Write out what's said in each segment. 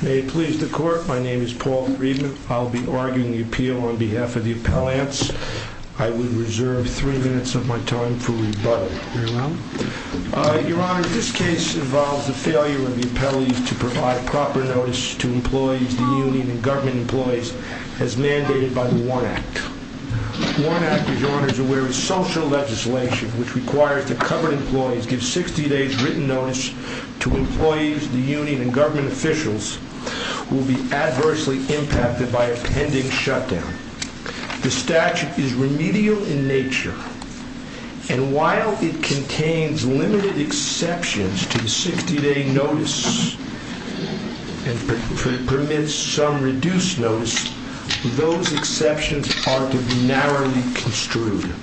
May it please the court, my name is Paul Friedman. I'll be arguing the appeal on behalf of the appellants. I will reserve three minutes of my time for rebuttal. Your Honor, this case involves the failure of the appellees to provide proper notice to employees, the union and government employees, as mandated by the WARN Act. WARN Act, Your Honor, is a very social legislation which requires that covered employees give 60 days written notice to employees, the union and government officials, who will be adversely impacted by a pending shutdown. The statute is remedial in nature, and while it contains limited exceptions to the 60 day notice, and permits some reduced notice, those exceptions are to be narrowly construed.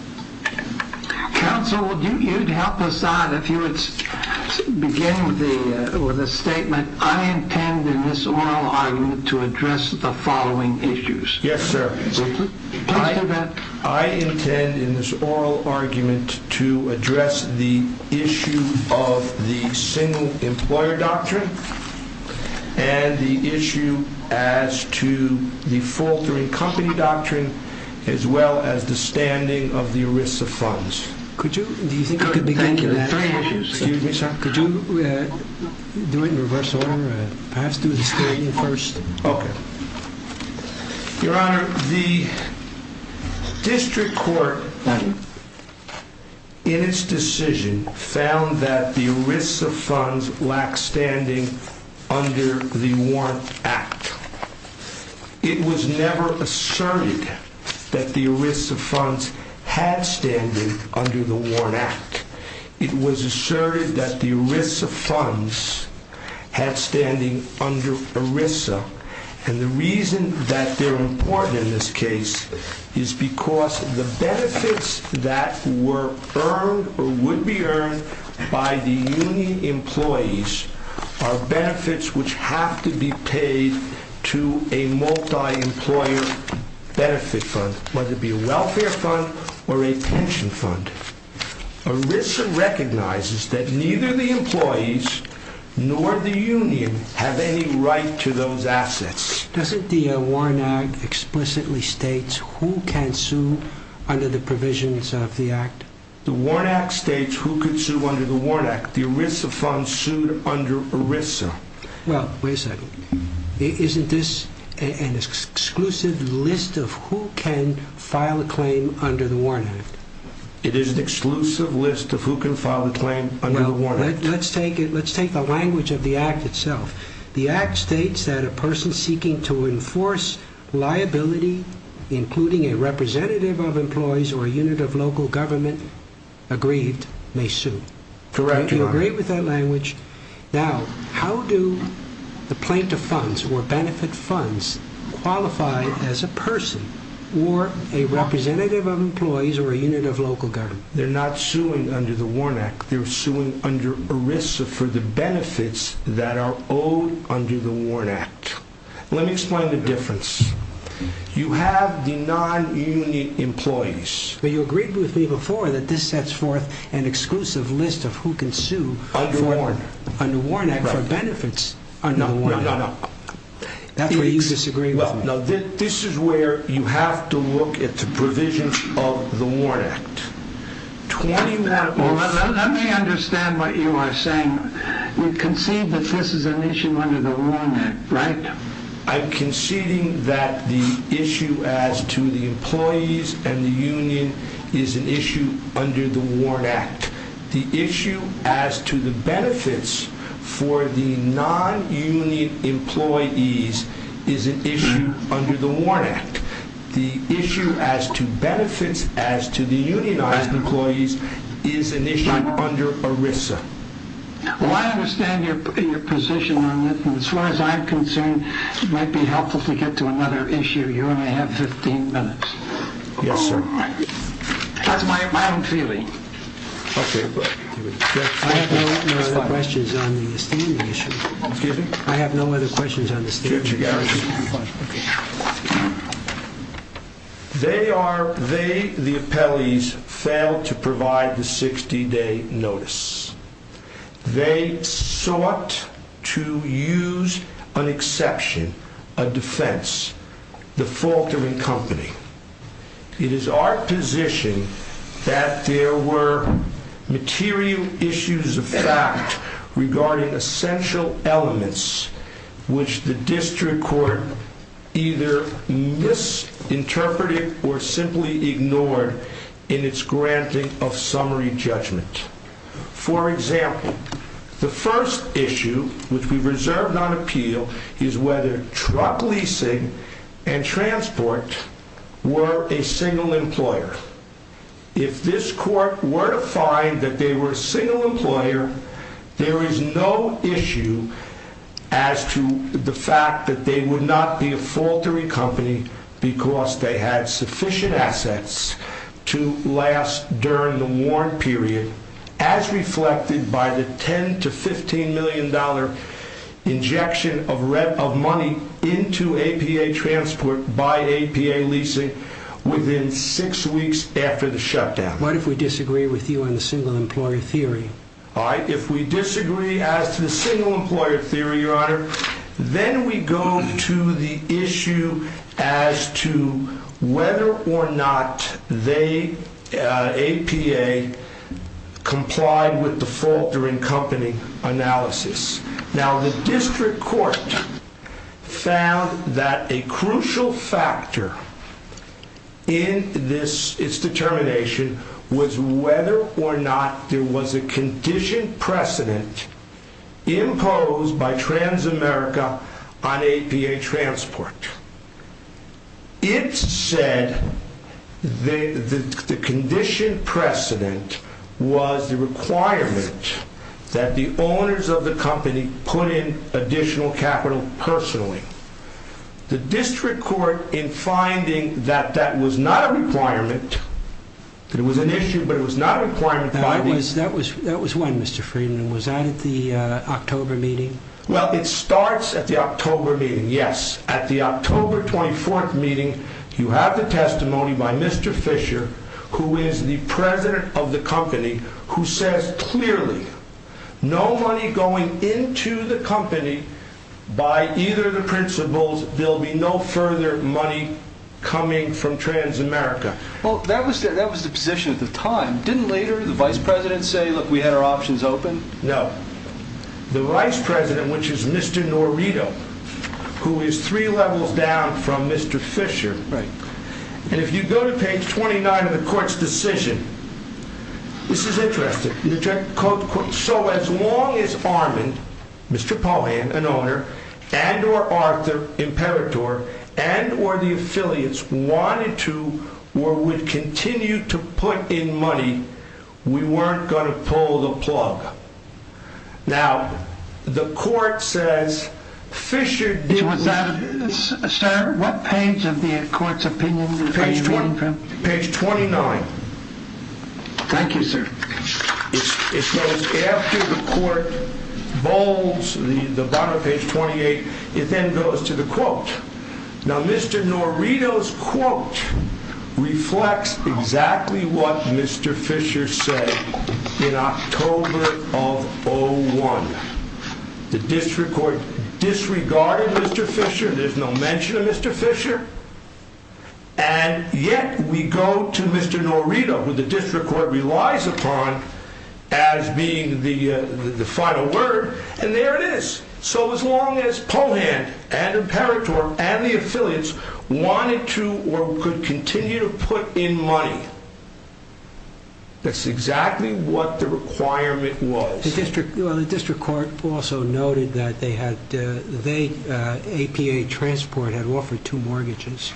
Counsel, you'd help us out if you would begin with a statement, I intend in this oral argument to address the following issues. Yes, sir. I intend in this oral argument to address the issue of the single employer doctrine, and the issue as to the faltering company doctrine, as well as the standing of the ERISA funds. Could you, do you think you could begin with that? Thank you. Excuse me, sir. Could you do it in reverse order? Perhaps do the found that the ERISA funds lack standing under the WARN Act. It was never asserted that the ERISA funds had standing under the WARN Act. It was asserted that the ERISA funds had standing under ERISA, and the reason that they're important in this case is because the benefits that were earned or would be earned by the union employees are benefits which have to be paid to a multi-employer benefit fund, whether it be a welfare fund or a pension fund. ERISA recognizes that neither the employees nor the union have any right to those assets. Doesn't the WARN Act explicitly state who can sue under the provisions of the Act? The WARN Act states who could sue under the WARN Act. The ERISA funds sued under ERISA. Well, wait a second. Isn't this an exclusive list of who can file a claim under the WARN Act? It is an exclusive list of who can file a claim under the WARN Act. Let's take the language of the Act itself. The Act states that a person seeking to enforce liability, including a representative of employees or a unit of local government, aggrieved may sue. Correct. Do you agree with that language? Now, how do the plaintiff funds or benefit funds qualify as a person or a representative of employees or a unit of local government? They're not suing under the WARN Act. They're suing under ERISA for the benefits that are owed under the WARN Act. Let me explain the difference. You have the non-union employees. But you agreed with me before that this sets forth an exclusive list of who can sue under the WARN Act for benefits under the WARN Act. No, no, no. That's where you disagree with me. Well, now, this is where you have to look at the provision of the WARN Act. Let me understand what you are saying. You concede that this is an issue under the WARN Act, right? I'm conceding that the issue as to the employees and the union is an issue under the WARN Act. The issue as to the benefits for the non-union employees is an issue under the WARN Act. The issue as to benefits as to the unionized employees is an issue under ERISA. Well, I understand your position on that. As far as I'm concerned, it might be helpful to get to another issue. You only have 15 minutes. Yes, sir. That's my own feeling. Okay. I have no other questions on the standing issue. Excuse me? I have no other questions on the standing issue. They are, they, the appellees, failed to provide the 60-day notice. They sought to use an exception, a defense, the fault of a company. It is our position that there were material issues of fact regarding essential elements which the district court either misinterpreted or simply ignored in its granting of summary judgment. For example, the first issue which we've reserved on appeal is whether truck leasing and transport were a single employer. If this court were to find that they were a single employer, there is no issue as to the fact that they would not be a faultery company because they had sufficient assets to last during the warrant period as reflected by the $10 to $15 million injection of money into APA transport by APA leasing within six weeks after the shutdown. What if we disagree with you on the single employer theory? All right, if we disagree as to the single employer theory, your honor, then we go to the issue as to whether or not they, APA, complied with the fault during company analysis. Now, the district court found that a crucial factor in this, its determination, was whether or not there was a condition precedent imposed by Transamerica on APA transport. It said that the condition precedent was the requirement that the owners of the company put in additional capital personally. The district court, in finding that that was not a requirement, that it was an issue, but it was not a requirement, That was when, Mr. Friedman, was that at the October meeting? Well, it starts at the October meeting, yes. At the October 24th meeting, you have the testimony by Mr. Fisher, who is the no money going into the company by either of the principles, there'll be no further money coming from Transamerica. Well, that was the position at the time. Didn't later the vice president say, look, we had our options open? No. The vice president, which is Mr. Norito, who is three levels down from Mr. Fisher, and if you go to page 29 of the court's decision, this is interesting. So, as long as Armand, Mr. Paulin, an owner, and or Arthur Imperator, and or the affiliates wanted to, or would continue to put in money, we weren't going to pull the plug. Now, the court says Fisher did. What page of the court's opinion? Page 29. Thank you, sir. It's after the court bolds the bottom page 28. It then goes to the quote. Now, Mr. Norito's quote reflects exactly what Mr. Fisher said in October of 01. The district court disregarded Mr. Fisher. There's no mention of Mr. Fisher. And yet we go to Mr. Norito, who the district court relies upon as being the final word, and there it is. So, as long as Paulin and Imperator and the affiliates wanted to, or could continue to put in money, that's exactly what the requirement was. The district court also noted that APA Transport had offered two mortgages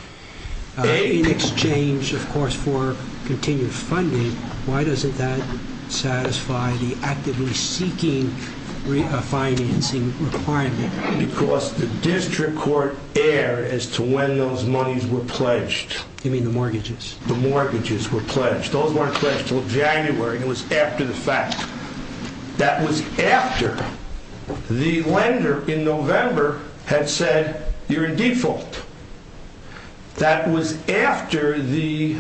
in exchange, of course, for continued funding. Why doesn't that satisfy the actively seeking financing requirement? Because the district court erred as to when those monies were pledged. You mean the mortgages? The mortgages were pledged. Those weren't pledged. That was after the lender in November had said, you're in default. That was after the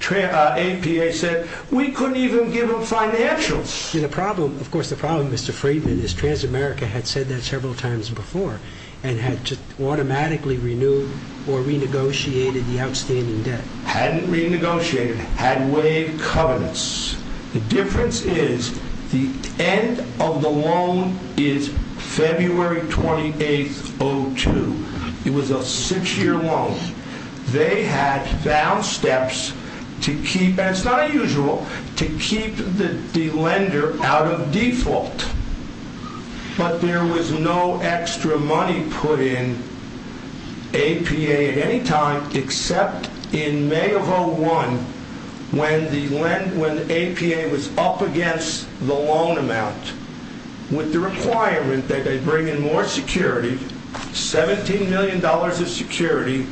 APA said, we couldn't even give them financials. And the problem, of course, the problem, Mr. Friedman, is Transamerica had said that several times before and had just automatically renewed or renegotiated the outstanding debt. Hadn't renegotiated, had waived covenants. The difference is the end of the loan is February 28, 02. It was a six-year loan. They had found steps to keep, and it's not unusual, to keep the lender out of default. But there was no extra money put in at any time except in May of 01 when the APA was up against the loan amount with the requirement that they bring in more security, $17 million of security.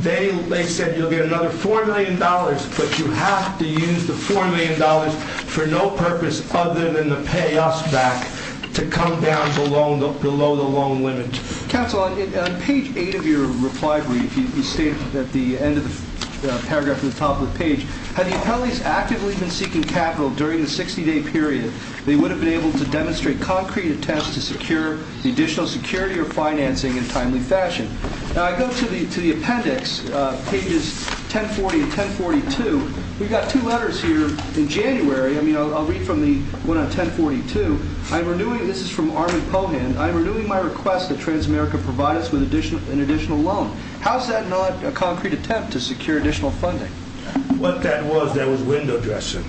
They said, you'll get another $4 million, but you have to use the $4 million for no purpose other than to pay us back to come down below the loan limit. Counsel, on page eight of your reply brief, you state at the end of the paragraph at the top of the page, had the appellees actively been seeking capital during the 60-day period, they would have been able to demonstrate concrete attempts to secure the additional security or financing in timely fashion. Now, I go to the appendix, pages 1040 and 1042. We've got two letters here in January. I mean, I'll read from the one on 1042. I'm renewing, this is from Armand I'm renewing my request that Transamerica provide us with an additional loan. How's that not a concrete attempt to secure additional funding? What that was, that was window dressing.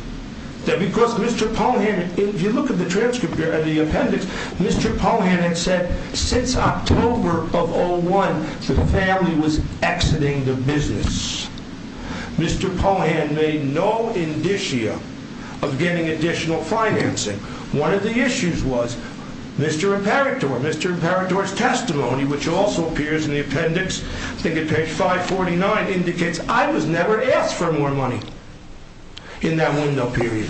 Because Mr. Pohan, if you look at the transcript here at the appendix, Mr. Pohan had said, since October of 01, the family was exiting the business. Mr. Pohan made no indicia of getting additional financing. One of the issues was, Mr. Imperator, Mr. Imperator's testimony, which also appears in the appendix, I think at page 549, indicates I was never asked for more money in that window period.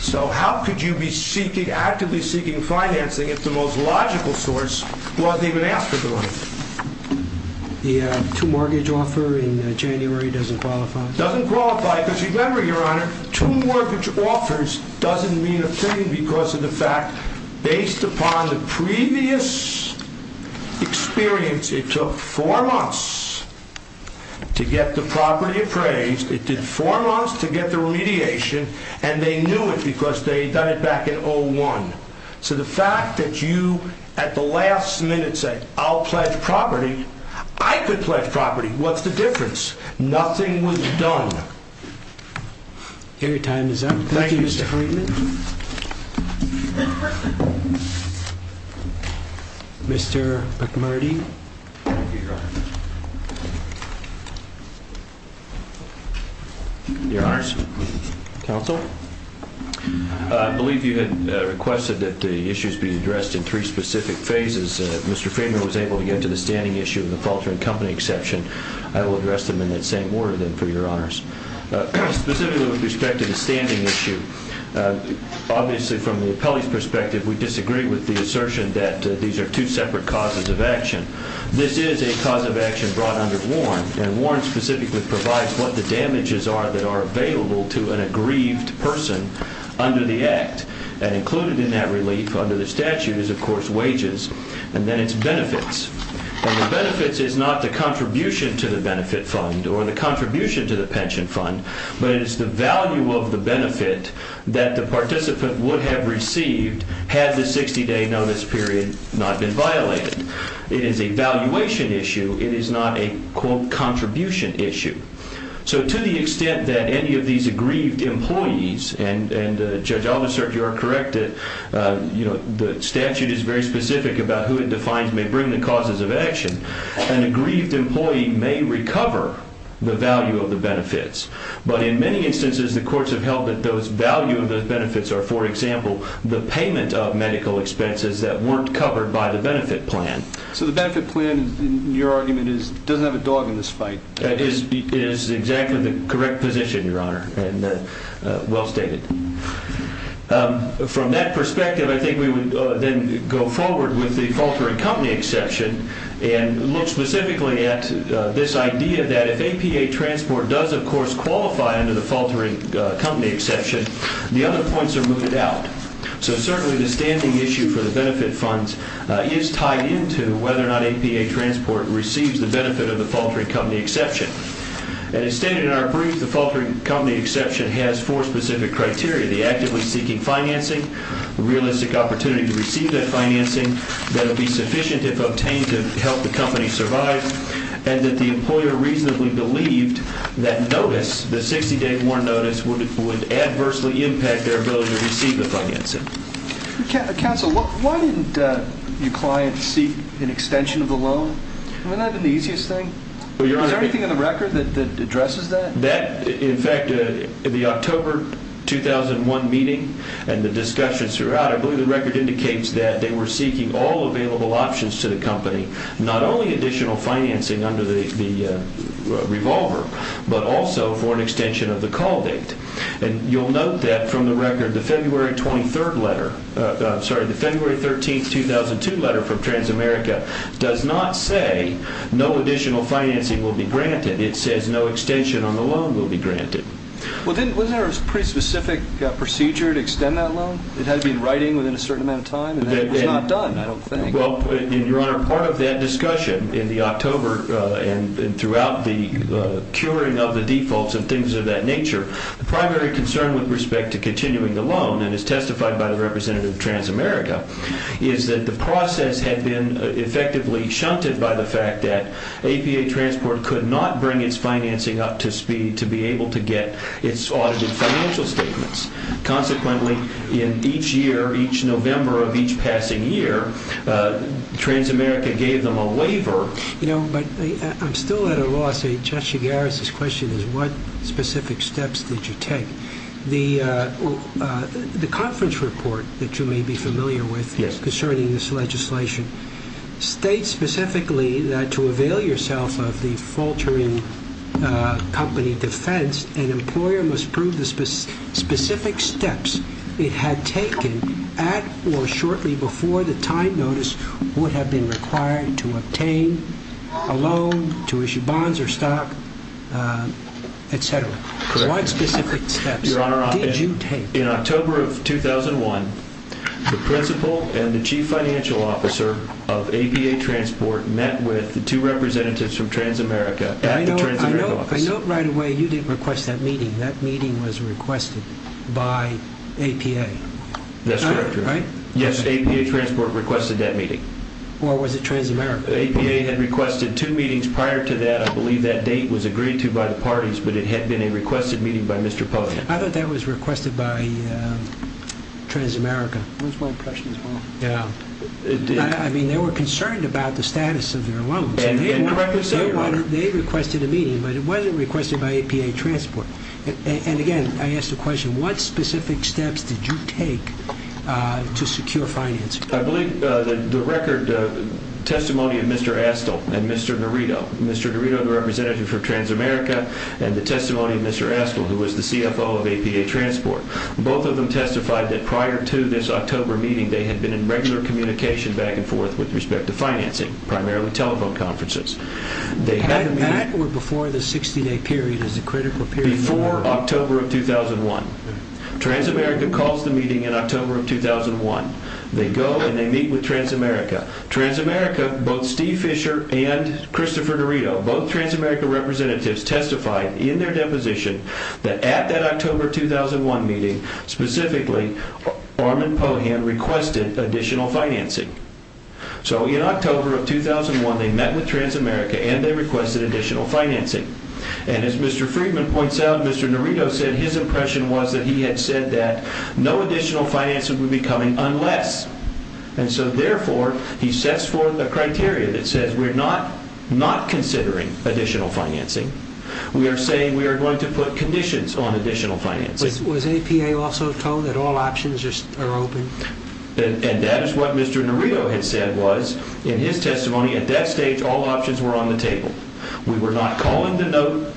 So how could you be seeking, actively seeking financing if the most logical source wasn't even asked for the money? The two mortgage offer in January doesn't qualify? Doesn't qualify, because remember, your honor, two mortgage offers doesn't mean a thing because of the fact, based upon the previous experience, it took four months to get the property appraised, it did four months to get the remediation, and they knew it because they'd done it back in 01. So the fact that you at the last minute say, I'll pledge property, I could pledge property, what's the difference? Nothing was done. Your time is up. Thank you, Mr. Friedman. Mr. McMurdy. Your honors, counsel, I believe you had requested that the issues be addressed in three specific phases. If Mr. Friedman was able to get to the standing issue of the falter in company exception, I will address them in that same order then for your honors. Specifically with respect to the Pelley's perspective, we disagree with the assertion that these are two separate causes of action. This is a cause of action brought under Warren, and Warren specifically provides what the damages are that are available to an aggrieved person under the act. And included in that relief under the statute is, of course, wages, and then it's benefits. And the benefits is not the contribution to the benefit fund or the contribution to the pension fund, but it is the value of the benefit that the participant would have received had the 60-day notice period not been violated. It is a valuation issue. It is not a, quote, contribution issue. So to the extent that any of these aggrieved employees, and Judge Alderson, you are correct, the statute is very specific about who it defines may bring the causes of action. An aggrieved employee may recover the value of the benefits, but in many instances, the courts have held that those value of those benefits are, for example, the payment of medical expenses that weren't covered by the benefit plan. So the benefit plan, in your argument, doesn't have a dog in this fight. It is exactly the correct position, your honor, and well stated. From that perspective, I think we would then go forward with the falter in company exception, and look specifically at this idea that if APA transport does, of course, qualify under the faltering company exception, the other points are mooted out. So certainly the standing issue for the benefit funds is tied into whether or not APA transport receives the benefit of the faltering company exception. And as stated in our brief, the faltering company exception has four specific criteria, the actively seeking financing, realistic opportunity to receive that financing that will be sufficient if obtained to help the company survive, and that the employer reasonably believed that notice, the 60 day warrant notice, would adversely impact their ability to receive the financing. Counsel, why didn't your client seek an extension of the loan? Wouldn't that have been the easiest thing? Is there anything in the record that addresses that? In fact, in the October 2001 meeting, and the discussions throughout, I believe the record indicates that they were all available options to the company, not only additional financing under the revolver, but also for an extension of the call date. And you'll note that from the record, the February 23rd letter, sorry, the February 13th, 2002 letter from Transamerica does not say no additional financing will be granted. It says no extension on the loan will be granted. Well, then wasn't there a pretty specific procedure to extend that loan? It had to be in writing within a certain amount of time, and it was not done, I don't think. Well, and Your Honor, part of that discussion in the October, and throughout the curing of the defaults and things of that nature, the primary concern with respect to continuing the loan, and as testified by the Representative of Transamerica, is that the process had been effectively shunted by the fact that APA Transport could not bring its financing up to speed to be able to get its audited financial statements. Consequently, in each year, each November of each passing year, Transamerica gave them a waiver. You know, but I'm still at a loss, Judge Chigares' question is what specific steps did you take? The conference report that you may be familiar with concerning this legislation states specifically that to avail yourself of the faltering company defense, an employer must prove the specific steps it had taken at or shortly before the time notice would have been required to obtain a loan, to issue bonds, or stock, etc. What specific steps did you take? Your Honor, in October of 2001, the Principal and the Chief Financial Officer of APA Transport met with the two Representatives from Transamerica at the Transamerica office. I note right away, you didn't request that meeting. That meeting was requested by APA, right? Yes, APA Transport requested that meeting. Or was it Transamerica? APA had requested two meetings prior to that. I believe that date was agreed to by the parties, but it had been a requested meeting by Mr. Pota. I thought that was requested by Transamerica. That was my impression as well. Yeah. I mean, they were concerned about the status of their loans. They requested a meeting. I asked a question. What specific steps did you take to secure financing? I believe the record testimony of Mr. Astle and Mr. Dorito. Mr. Dorito, the Representative for Transamerica, and the testimony of Mr. Astle, who was the CFO of APA Transport. Both of them testified that prior to this October meeting, they had been in regular communication back and forth with respect to financing, primarily telephone conferences. That or before the 60-day period is a critical period. Before October of 2001, Transamerica calls the meeting in October of 2001. They go and they meet with Transamerica. Transamerica, both Steve Fisher and Christopher Dorito, both Transamerica Representatives testified in their deposition that at that October 2001 meeting, specifically, Orman Pohan requested additional financing. So in October of 2001, they met with Transamerica and they requested additional financing. And as Mr. Friedman points out, Mr. Dorito said his impression was that he had said that no additional financing would be coming unless. And so therefore, he sets forth a criteria that says we're not not considering additional financing. We are saying we are going to put conditions on additional financing. Was APA also told that all options are open? And that is what Mr. Dorito had said was in his testimony. At that stage, all options were on the table. We were not calling the note,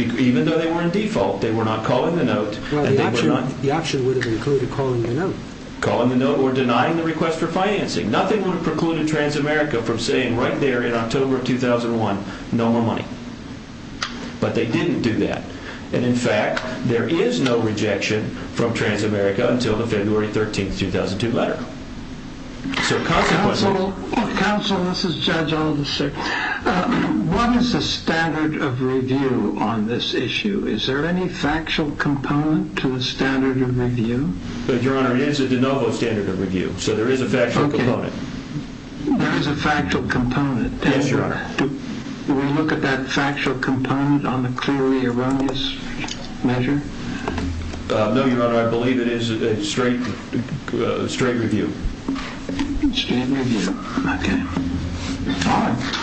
even though they were in default, they were not calling the note. The option would have included calling the note. Calling the note or denying the request for financing. Nothing would have precluded Transamerica from saying right there in October of 2001, no more money. But they didn't do that. And in fact, there is no rejection from Transamerica until the February 13th, 2002 letter. So consequences. Counsel, this is Judge Aldous, sir. What is the standard of review on this issue? Is there any factual component to the standard of review? Your Honor, it is a de novo standard of review, so there is a factual component. There is a factual component? Yes, Your Honor. Do we look at that factual component on the clearly erroneous measure? No, Your Honor, I believe it is a straight view. Okay. All right.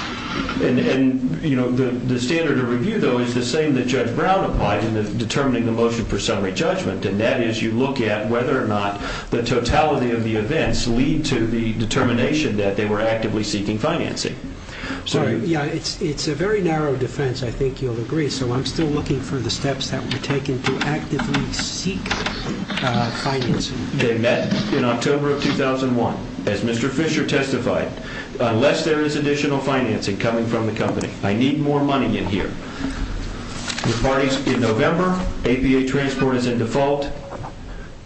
And, you know, the standard of review, though, is the same that Judge Brown applied in determining the motion for summary judgment. And that is you look at whether or not the totality of the events lead to the determination that they were actively seeking financing. Sorry. Yeah, it's a very narrow defense. I think you'll agree. So I'm still looking for the steps that were taken to actively seek financing. They met in October of 2001. As Mr. Fisher testified, unless there is additional financing coming from the company, I need more money in here. The parties in November, APA Transport is in default.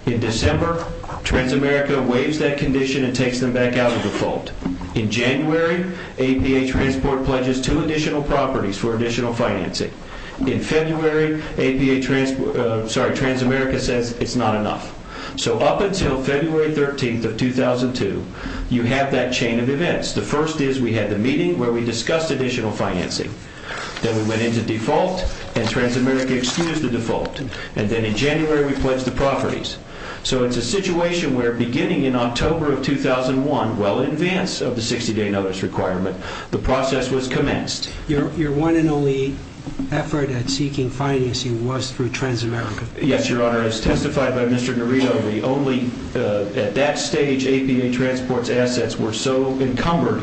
In December, Transamerica waives that condition and takes them back out of default. In January, APA Transport pledges two additional properties for additional financing. In February, APA Transport, sorry, Transamerica says it's not enough. So up until February 13th of 2002, you have that chain of events. The first is we had the meeting where we discussed additional financing. Then we went into default, and Transamerica excused the default. And then in January, we pledged the properties. So it's a situation where beginning in October of 2001, well in advance of the 60-day notice requirement, the process was commenced. Your one and only effort at seeking financing was through Transamerica. Yes, Your Honor. As testified by Mr. Garrido, at that stage, APA Transport's assets were so encumbered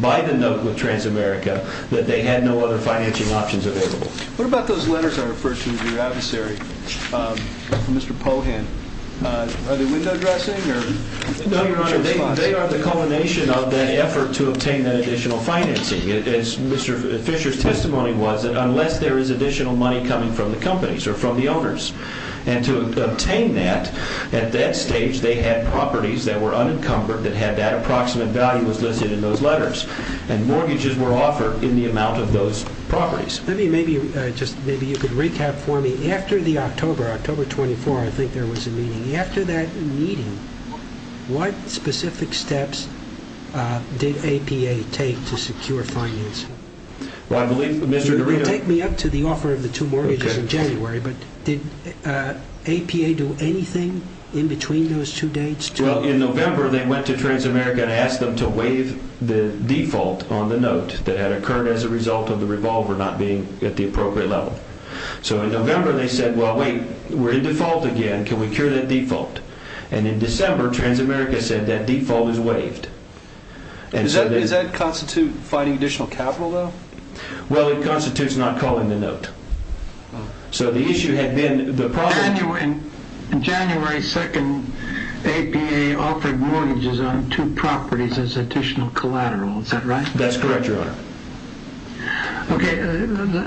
by the note with Transamerica that they had no other financing options available. What about those letters I referred to as your adversary, Mr. Pohan? Are they window dressing? No, Your Honor. They are the culmination of that effort to obtain that additional financing. Mr. Fisher's testimony was that unless there is additional money coming from the companies or from the owners, and to obtain that, at that stage, they had properties that were unencumbered that had that approximate value was listed in those letters. And mortgages were offered in the amount of those properties. Maybe you could recap for me. After the October, October 24, I think there was a meeting. After that meeting, what specific steps did APA take to secure financing? Take me up to the offer of the two mortgages in January, but did APA do anything in between those two dates? Well, in November, they went to Transamerica and asked them to waive the default on the note that had occurred as a result of the revolver not being at the appropriate level. So in November, they said, well, wait, we're in default again. Can we cure that default? And in December, Transamerica said that default is waived. Does that constitute fighting additional capital, though? Well, it constitutes not calling the note. So the issue had been the problem. In January 2nd, APA offered mortgages on two properties as additional collateral. Is that right? That's correct, Your Honor. Okay.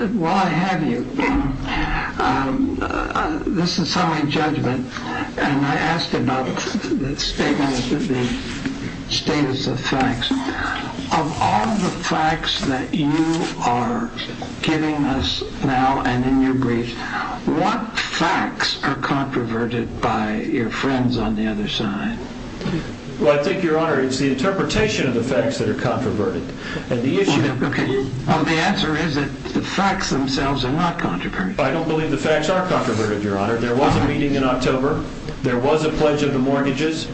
While I have you, this is some of my judgment. And I asked about that statement, the status of facts. Of all the facts that you are giving us now and in your brief, what facts are controverted by your friends on the other side? Well, I think, Your Honor, it's the interpretation of the facts that are controverted. And the issue of the answer is that the facts themselves are not controverted. I don't believe the facts are controverted, Your Honor. There was a meeting in October. There was a pledge of the mortgages.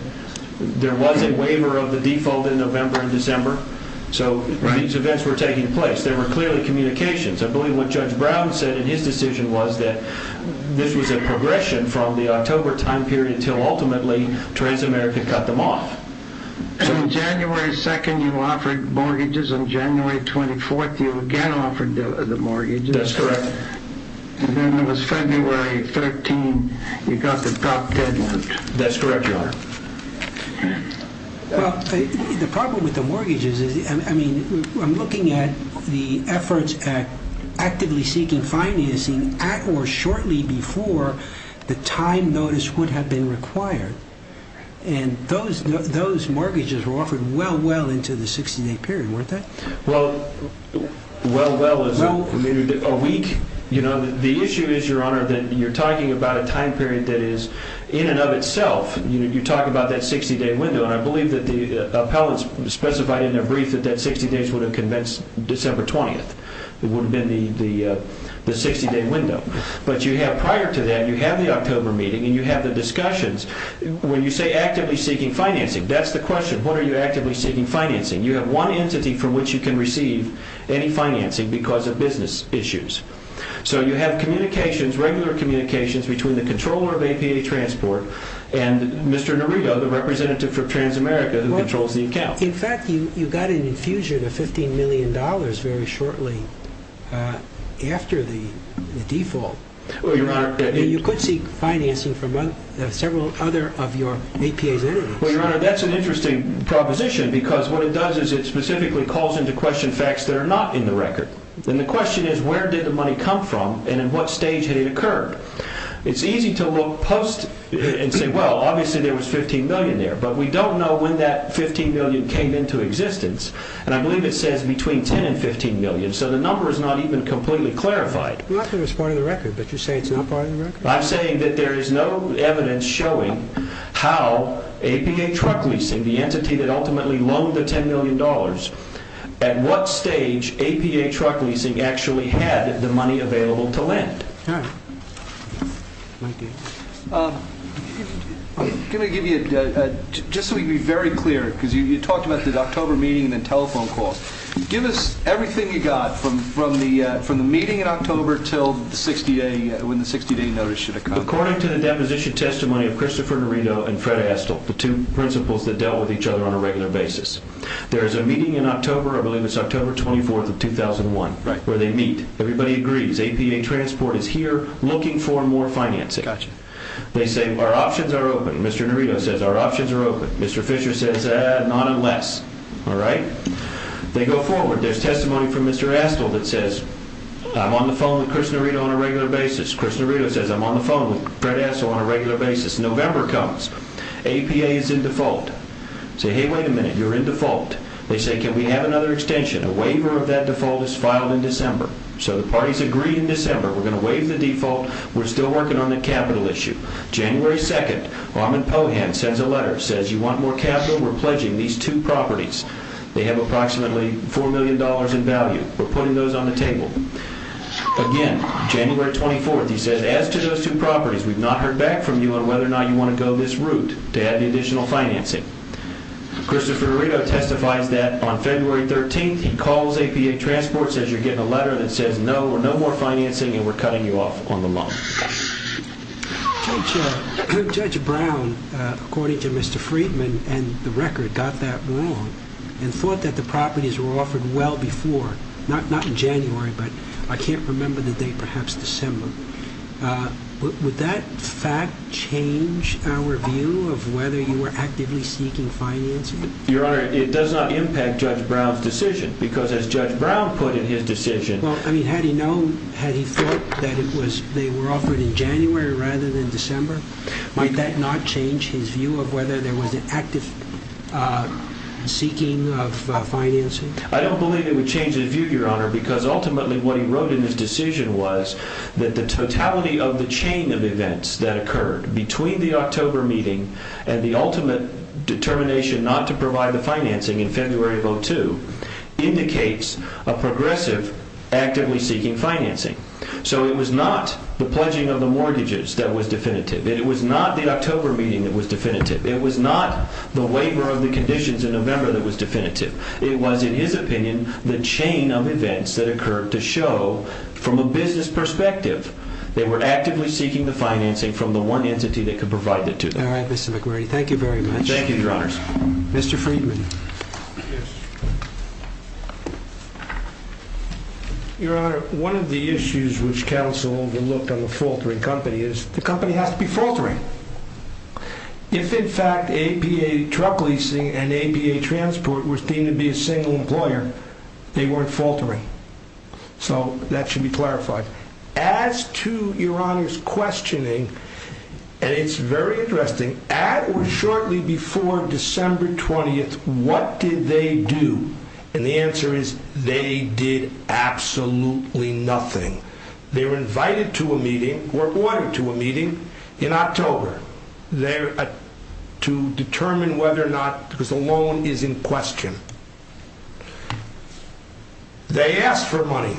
There was a waiver of the default in November and December. So these events were taking place. There were clearly communications. I believe what Judge Brown said in his decision was that this was a progression from the October time period until, ultimately, Transamerica cut them off. On January 2nd, you offered mortgages. On January 24th, you again offered the mortgages. That's correct. And then it was February 13th, you got the drop deadlocked. That's correct, Your Honor. Well, the problem with the mortgages is, I mean, I'm looking at the efforts at actively seeking financing at or shortly before the time notice would have been required. And those mortgages were offered well, well into the 16-day period, weren't they? Well, well, well is a week. The issue is, Your Honor, that you're talking about a time period that is, in and of itself, you talk about that 60-day window. And I believe that the appellants specified in their brief that that 60 days would have convinced December 20th. It would have been the 60-day window. But you have, prior to that, you have the October meeting and you have the discussions. When you say actively seeking financing, that's the question. What are you actively seeking financing? You have one entity from which you can receive any financing because of business issues. So you have communications, regular communications, between the controller of APA Transport and Mr. Norito, the representative for TransAmerica, who controls the account. In fact, you got an infusion of $15 million very shortly after the default. You could seek financing from several other of your APA's enemies. Your Honor, that's an interesting proposition because what it does is it specifically calls into question facts that are not in the record. And the question is, where did the money come from and in what stage had it occurred? It's easy to look post and say, well, obviously, there was $15 million there. But we don't know when that $15 million came into existence. And I believe it says between $10 and $15 million. So the number is not even completely clarified. Not that it's part of the record, but you're saying it's not part of the record? I'm saying that there is no evidence showing how APA Truck Leasing, the entity that ultimately loaned the $10 million, at what stage APA Truck Leasing actually had the money available to lend. All right. Thank you. Let me give you, just so we can be very clear, because you talked about the October meeting and then telephone call. Give us everything you got from the meeting in October till the 60-day, according to the deposition testimony of Christopher Nerito and Fred Astle, the two principals that dealt with each other on a regular basis. There is a meeting in October, I believe it's October 24th of 2001, where they meet. Everybody agrees APA Transport is here looking for more financing. They say, our options are open. Mr. Nerito says, our options are open. Mr. Fisher says, not unless. All right. They go forward. There's testimony from Mr. Astle that says, I'm on the phone with Chris Nerito on a regular basis. Chris Nerito says, I'm on the phone with Fred Astle on a regular basis. November comes. APA is in default. Say, hey, wait a minute. You're in default. They say, can we have another extension? A waiver of that default is filed in December. So the parties agree in December, we're going to waive the default. We're still working on the capital issue. January 2nd, Raman Pohan sends a letter, says, you want more capital? We're pledging these two properties. They have approximately $4 million in value. We're putting those on the table. Again, January 24th, he says, as to those two properties, we've not heard back from you on whether or not you want to go this route to add the additional financing. Christopher Nerito testifies that on February 13th, he calls APA Transport, says, you're getting a letter that says, no, we're no more financing and we're cutting you off on the loan. Judge Brown, according to Mr. Friedman and the record, got that wrong and thought that the properties were I can't remember the date, perhaps December. Would that fact change our view of whether you were actively seeking financing? Your Honor, it does not impact Judge Brown's decision because as Judge Brown put in his decision. Well, I mean, had he known, had he thought that it was, they were offered in January rather than December? Might that not change his view of whether there was an active seeking of financing? I don't believe it would change his view, Your Honor, because ultimately what he wrote in his decision was that the totality of the chain of events that occurred between the October meeting and the ultimate determination not to provide the financing in February of 02 indicates a progressive actively seeking financing. So it was not the pledging of the mortgages that was definitive. It was not the October meeting that was definitive. It was not the waiver of the conditions in November that was definitive. It was, in his opinion, the chain of events that occurred to show from a business perspective they were actively seeking the financing from the one entity that could provide the two. All right, Mr. McMurray, thank you very much. Thank you, Your Honors. Mr. Friedman. Your Honor, one of the issues which counsel overlooked on the faltering company is the company has to be faltering. If, in fact, APA truck leasing and APA transport was deemed to be a faulty employer, they weren't faltering. So that should be clarified. As to Your Honor's questioning, and it's very interesting, shortly before December 20th, what did they do? And the answer is they did absolutely nothing. They were invited to a meeting or ordered to a meeting in October to determine whether or not, because the loan is in question. They asked for money.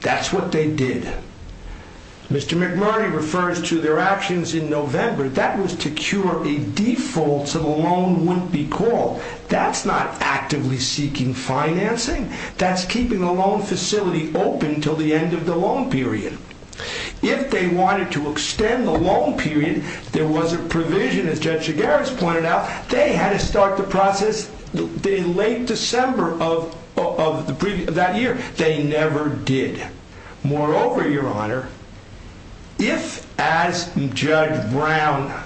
That's what they did. Mr. McMurray refers to their actions in November. That was to cure a default so the loan wouldn't be called. That's not actively seeking financing. That's keeping the loan facility open until the end of the loan period. If they wanted to extend the loan period, there was a provision, as Judge Chigares pointed out, they had to start the process in late December of that year. They never did. Moreover, Your Honor, if, as Judge Brown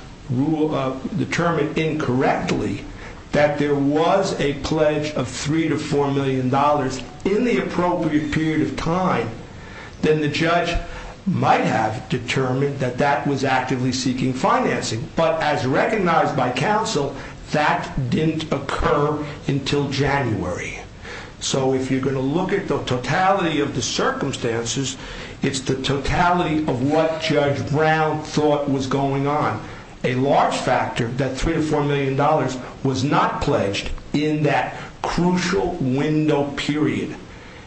determined incorrectly, that there was a pledge of $3 to $4 million in the appropriate period of time, then the judge might have determined that that was actively seeking financing. But as recognized by counsel, that didn't occur until January. So if you're going to look at the totality of the circumstances, it's the totality of what Judge Brown thought was going on. A large factor that $3 to $4 million was not pledged in that crucial window period.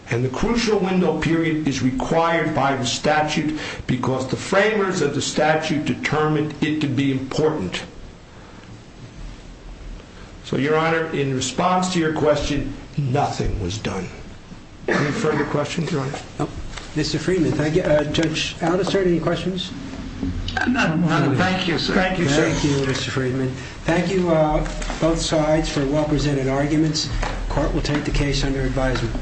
And the crucial window period is required by the statute because the framers of the statute determined it to be important. So, Your Honor, in response to your question, nothing was done. Any further questions, Your Honor? Mr. Friedman, thank you. Judge Aldister, any questions? None, Your Honor. Thank you, sir. Thank you, Mr. Friedman. Thank you, both sides, for well-presented arguments. Court will take the case under advisement.